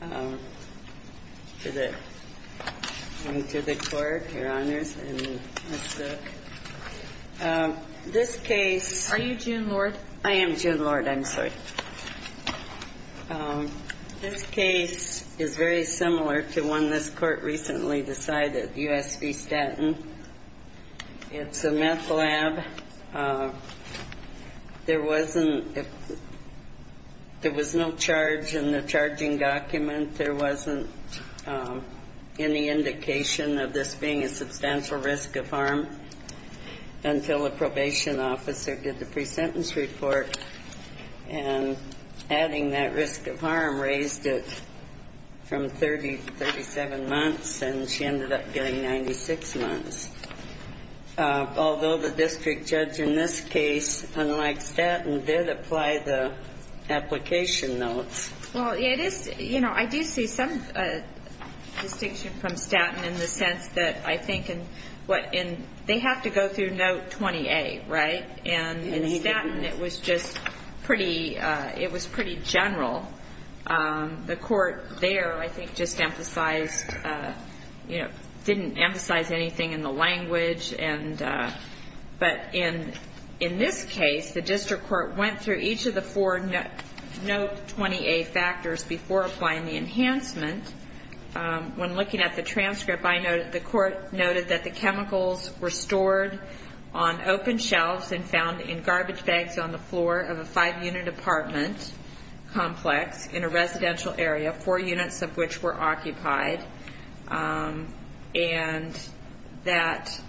Are you June Lord? I am June Lord, I'm sorry. This case is very similar to one this court recently decided, U.S. v. Staten. It's a meth lab. There was no charge in the charging document. There wasn't any indication of this being a substantial risk of harm until a probation officer did the pre-sentence report. And adding that risk of harm raised it from 30 to 37 months, and she ended up getting 96 months. Although the district judge in this case, unlike Staten, did apply the application notes. Well, it is, you know, I do see some distinction from Staten in the sense that I think in what in, they have to go through note 20A, right? And in Staten it was just pretty, it was pretty general. The court there, I think, just emphasized, you know, didn't emphasize anything in the language and, but in this case, the district court went through each of the four note 20A factors before applying the enhancement. When looking at the transcript, I noted, the court noted that the chemicals were stored on open complex in a residential area, four units of which were occupied, and that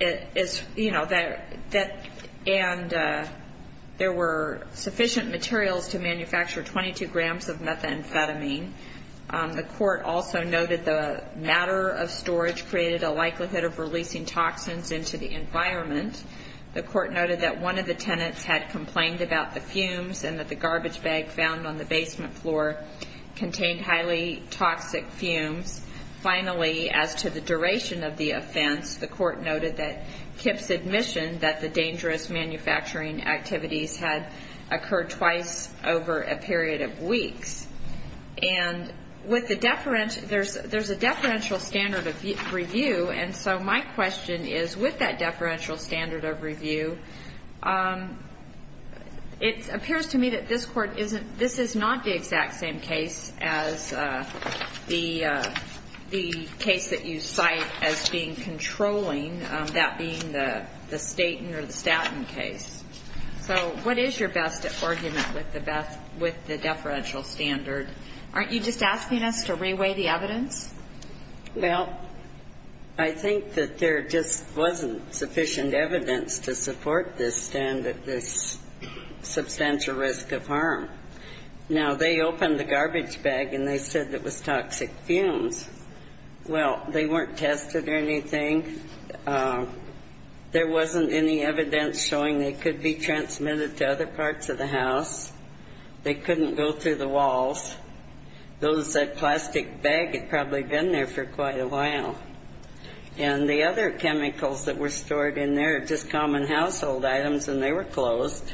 it is, you know, that, and there were sufficient materials to manufacture 22 grams of methamphetamine. The court also noted the matter of storage created a likelihood of releasing toxins into the environment. The court noted that one of the tenants had complained about the fumes and that the garbage bag found on the basement floor contained highly toxic fumes. Finally, as to the duration of the offense, the court noted that Kip's admission that the dangerous manufacturing activities had occurred twice over a period of weeks. And with the, there's a deferential standard of review, and so my question is, with that deferential standard of review, it appears to me that this Court isn't, this is not the exact same case as the case that you cite as being controlling, that being the Staten or the Staten case. So what is your best argument with the deferential standard? Aren't you just asking us to reweigh the evidence? Well, I think that there just wasn't sufficient evidence to support this standard, this substantial risk of harm. Now, they opened the garbage bag and they said it was toxic fumes. Well, they weren't tested or anything. There wasn't any evidence showing they could be transmitted to other parts of the house. They couldn't go through the walls. Those plastic bags had probably been there for quite a while. And the other chemicals that were stored in there, just common household items, and they were closed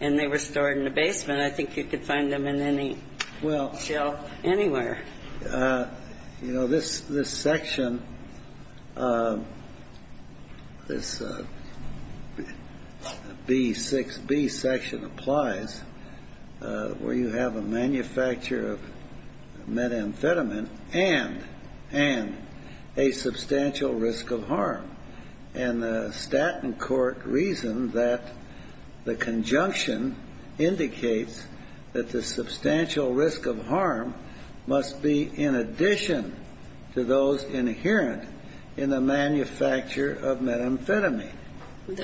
and they were stored in the basement. I think you could find them in any shelf anywhere. Well, you know, this section, this B6B section applies, where you have a manufacturer of methamphetamine and, and a substantial risk of harm. And the Staten Court reasoned that the conjunction indicates that the substantial risk of harm must be in addition to those inherent in the manufacture of methamphetamine. Well,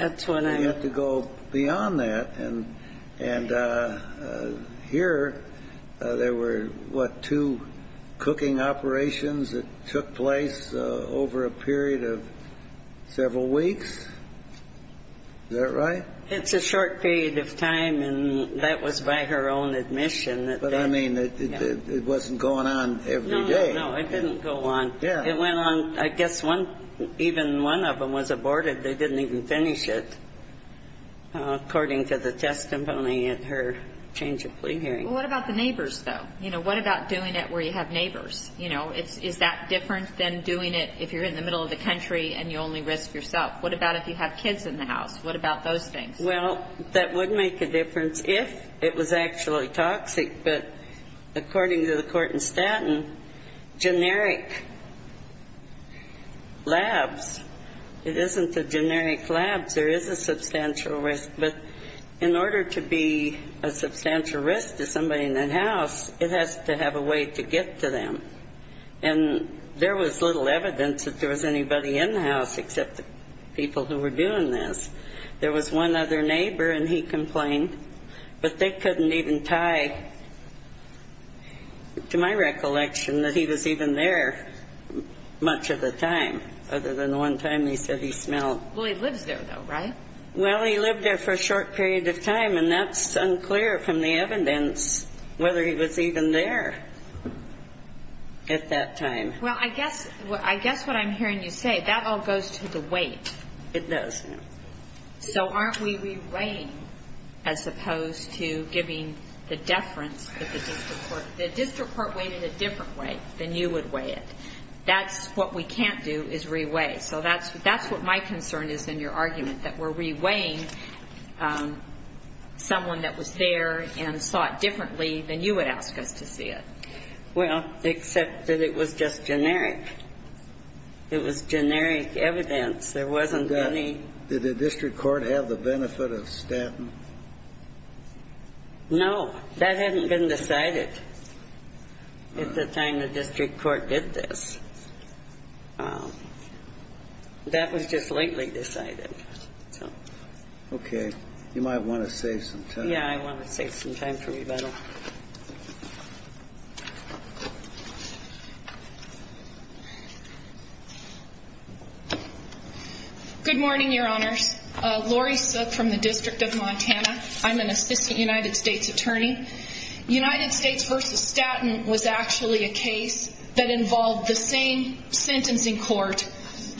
I mean, it's a short period of time, and that was by her own admission. But I mean, it wasn't going on every day. No, no, no. It didn't go on. Yeah. It went on, I guess, one, even one of them was aborted. They didn't even finish it, according to the testimony at her change of plea hearing. Well, what about the neighbors, though? You know, what about doing it where you have neighbors? You know, is that different than doing it if you're in the middle of the country and you only risk yourself? What about if you have kids in the house? What about those things? Well, that would make a difference if it was actually toxic. But according to the court in Staten, generic labs, it isn't the generic labs, there is a substantial risk. But in order to be a substantial risk to somebody in that house, it has to have a way to get to them. And there was little evidence that there was anybody in the house except the people who were doing this. There was one other neighbor, and he complained. But they couldn't even tie to my recollection that he was even there much of the time, other than the one time he said he smelled. Well, he lives there, though, right? Well, he lived there for a short period of time, and that's unclear from the evidence whether he was even there at that time. Well, I guess what I'm hearing you say, that all goes to the weight. It does, yes. So aren't we reweighing as opposed to giving the deference to the district court? The district court weighed it a different way than you would weigh it. That's what we can't do, is reweigh. So that's what my concern is in your reweighing someone that was there and saw it differently than you would ask us to see it. Well, except that it was just generic. It was generic evidence. There wasn't any... Did the district court have the benefit of statin? No. That hadn't been decided at the time the district court did this. That was just lately decided. Okay. You might want to save some time. Yeah, I want to save some time for rebuttal. Good morning, Your Honors. Laurie Suk from the District of Montana. I'm an assistant United States attorney. United States v. Statin was actually a case that involved the same sentencing court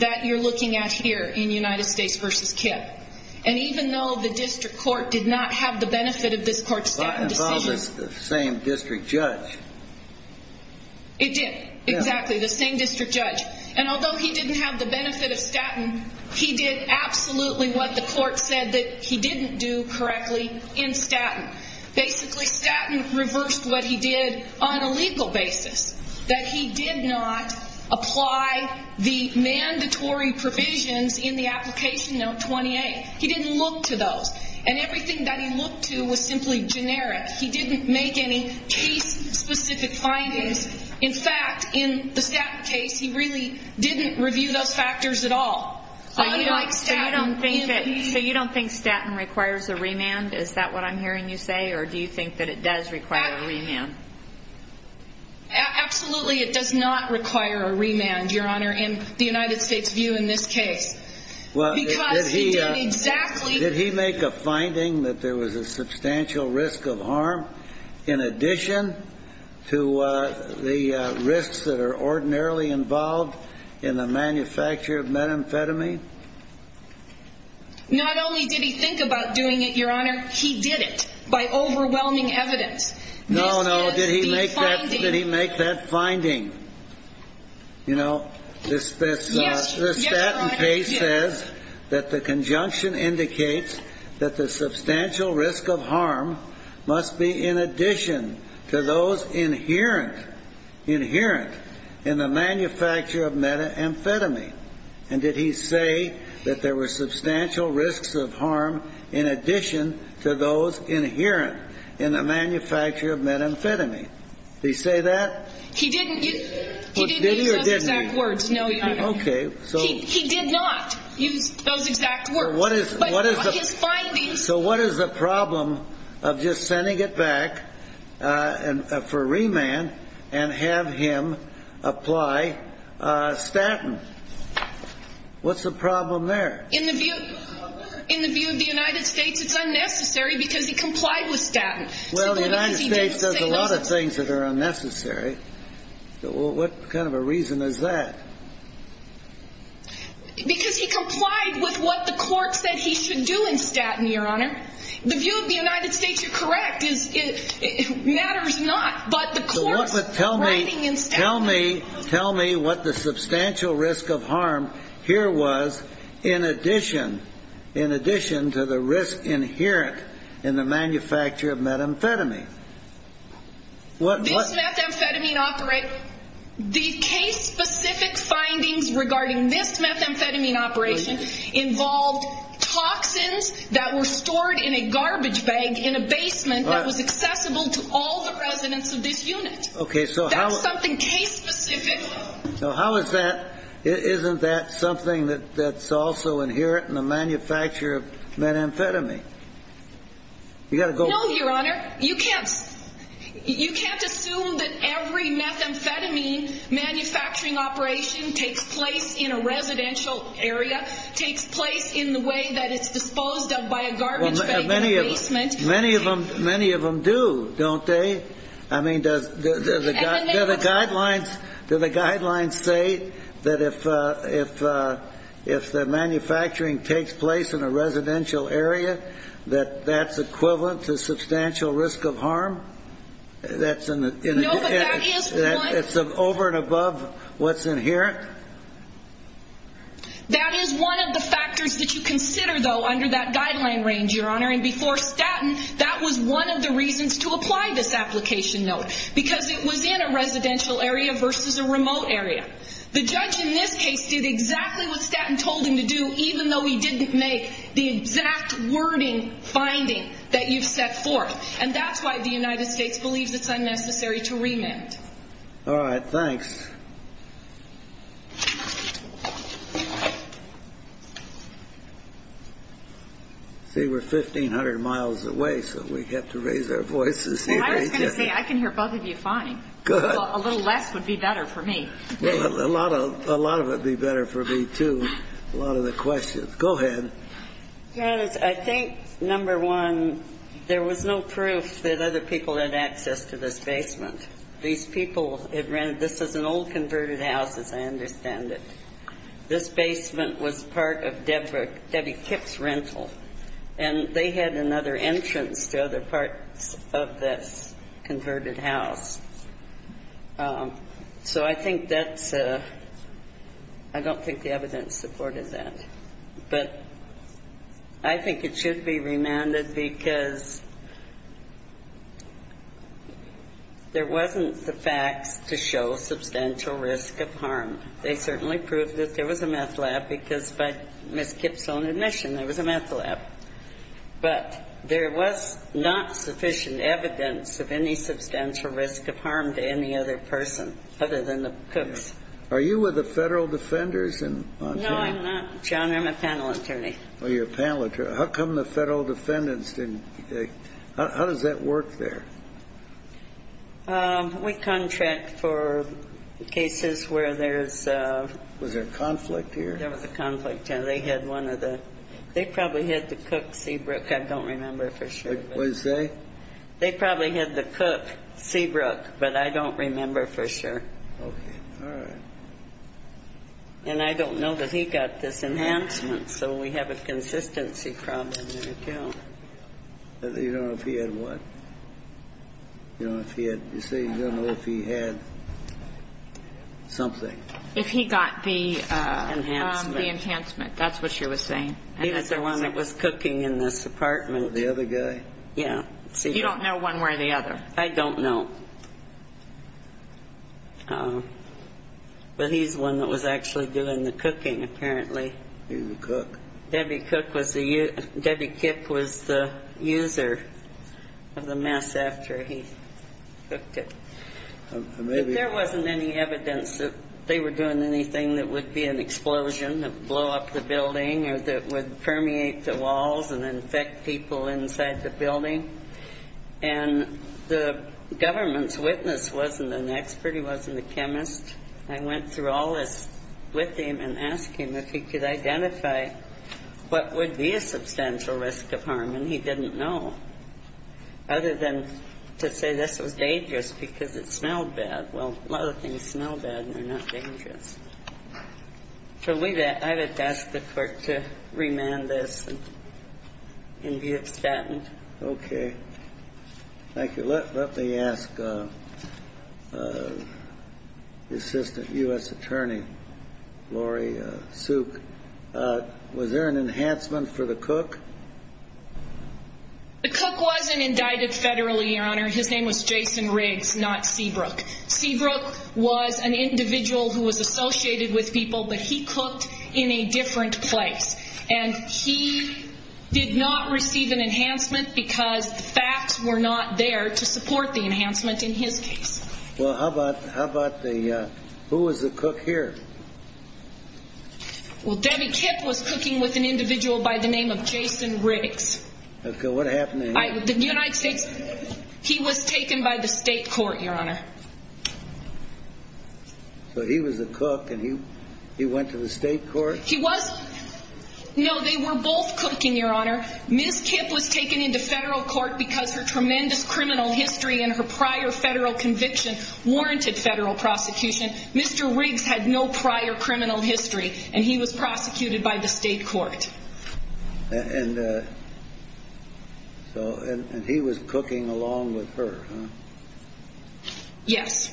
that you're looking at here in United States v. Kip. And even though the district court did not have the benefit of this court's statin decision... Well, it involved the same district judge. It did. Exactly. The same district judge. And although he didn't have the benefit of statin, he did absolutely what the court said that he didn't do correctly in statin. Basically, statin reversed what he did on a legal basis. That he did not apply the mandatory provisions in the application note 28. He didn't look to those. And everything that he looked to was simply generic. He didn't make any case-specific findings. In fact, in the statin case, he really didn't review those factors at all. So you don't think statin requires a remand? Is that what I'm hearing you say? Or do you think that it does require a remand? Absolutely, it does not require a remand, Your Honor, in the United States view in this case. Because he did exactly... Did he make a finding that there was a substantial risk of harm in addition to the risks that are ordinarily involved in the manufacture of methamphetamine? Not only did he think about doing it, Your Honor, he did it by overwhelming evidence. No, no. Did he make that finding? You know, this statin case says that the conjunction indicates that the substantial risk of harm must be in addition to those inherent in the manufacture of methamphetamine. And did he say that there were substantial risks of harm in addition to those inherent in the manufacture of methamphetamine? Did he say that? He didn't use those exact words, no, Your Honor. Okay, so... He did not use those exact words. So what is the problem of just sending it back for remand and have him apply statin? What's the problem there? In the view of the United States, it's unnecessary because he complied with statin. Well, the United States does a lot of things that are unnecessary. What kind of a reason is that? Because he complied with what the court said he should do in statin, Your Honor. The view of the United States, you're correct, matters not, but the court's writing in statin... Tell me what the substantial risk of harm here was in addition to the risk inherent in the manufacture of methamphetamine. This methamphetamine operator, the case-specific findings regarding this methamphetamine operation involved toxins that were stored in a garbage bag in a basement that was accessible to all the residents of this unit. Okay, so how... That's something case-specific. So how is that, isn't that something that's also inherent in the manufacture of methamphetamine? You've got to go... No, Your Honor. You can't assume that every methamphetamine manufacturing operation takes place in a residential area, takes place in the way that it's disposed of by a garbage bag in a basement. Well, many of them do, don't they? I mean, do the guidelines say that if the methamphetamine manufacturing takes place in a residential area, that that's equivalent to substantial risk of harm? That's in the... No, but that is one... It's over and above what's inherent? That is one of the factors that you consider, though, under that guideline range, Your Honor, and before statin, that was one of the reasons to apply this application note, because it was in a residential area versus a remote area. The judge in this case did exactly what statin told him to do, even though he didn't make the exact wording finding that you've set forth, and that's why the United States believes it's unnecessary to remand. All right, thanks. See, we're 1,500 miles away, so we have to raise our voices here. I was going to say, I can hear both of you fine. Good. A little less would be better for me. A lot of it would be better for me, too, a lot of the questions. Go ahead. Your Honor, I think, number one, there was no proof that other people had access to this basement. These people had rented this as an old converted house, as I understand it. This basement was part of Debbie Kipp's rental, and they had another entrance to other parts of this converted house. So I think that's a ‑‑ I don't think the evidence supported that. But I think it should be remanded because there wasn't the facts to show substantial risk of harm. They certainly proved that there was a meth lab, because by Ms. Kipp's own admission, there was a meth lab. But there was not sufficient evidence of any substantial risk of harm to any other person other than the Cooks. Are you with the federal defenders? No, I'm not, John. I'm a panel attorney. Oh, you're a panel attorney. How come the federal defendants didn't ‑‑ how does that work there? We contract for cases where there's ‑‑ Was there conflict here? There was a conflict. They had one of the ‑‑ they probably had the Cook Seabrook. I don't remember for sure. What did you say? They probably had the Cook Seabrook, but I don't remember for sure. Okay. All right. And I don't know that he got this enhancement. So we have a consistency problem there, too. You don't know if he had what? You don't know if he had ‑‑ you say you don't know if he had something. If he got the ‑‑ Enhancement. The enhancement. That's what you were saying. He was the one that was cooking in this apartment. The other guy? Yeah. You don't know one way or the other? I don't know. But he's the one that was actually doing the cooking, apparently. He was a cook. Debbie Cook was the ‑‑ Debbie Kipp was the user of the mess after he cooked it. There wasn't any evidence that they were doing anything that would be an explosion, blow up the building or that would permeate the walls and infect people inside the building. And the government's witness wasn't an expert. He wasn't a chemist. I went through all this with him and asked him if he could identify what would be a substantial risk of harm. And he didn't know. Other than to say this was dangerous because it smelled bad. Well, a lot of things smell bad and they're not dangerous. So I would ask the court to remand this and be extant. Okay. Thank you. Let me ask the assistant U.S. attorney, Lori Souk, was there an enhancement for the cook? The cook wasn't indicted federally, Your Honor. His name was Jason Riggs, not Seabrook. Seabrook was an individual who was associated with people, but he cooked in a different place. And he did not receive an enhancement because the facts were not there to support the enhancement in his case. Well, how about the ‑‑ who was the cook here? Well, Debbie Kipp was cooking with an individual by the name of Jason Riggs. Okay. What happened to him? The United States ‑‑ he was taken by the state court, Your Honor. So he was a cook and he went to the state court? He was ‑‑ no, they were both cooking, Your Honor. Ms. Kipp was taken into federal court because her tremendous criminal history and her prior federal conviction warranted federal prosecution. Mr. Riggs had no prior criminal history and he was prosecuted by the state court. And so ‑‑ and he was cooking along with her, huh? Yes.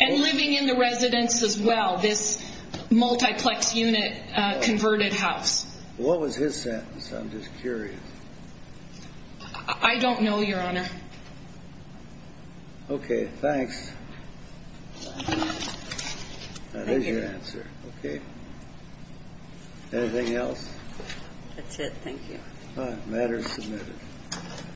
And living in the residence as well, this multiplex unit converted house. What was his sentence? I'm just curious. I don't know, Your Honor. That is your answer. Thank you. Okay. Anything else? That's it. Thank you. All right. Matter is submitted.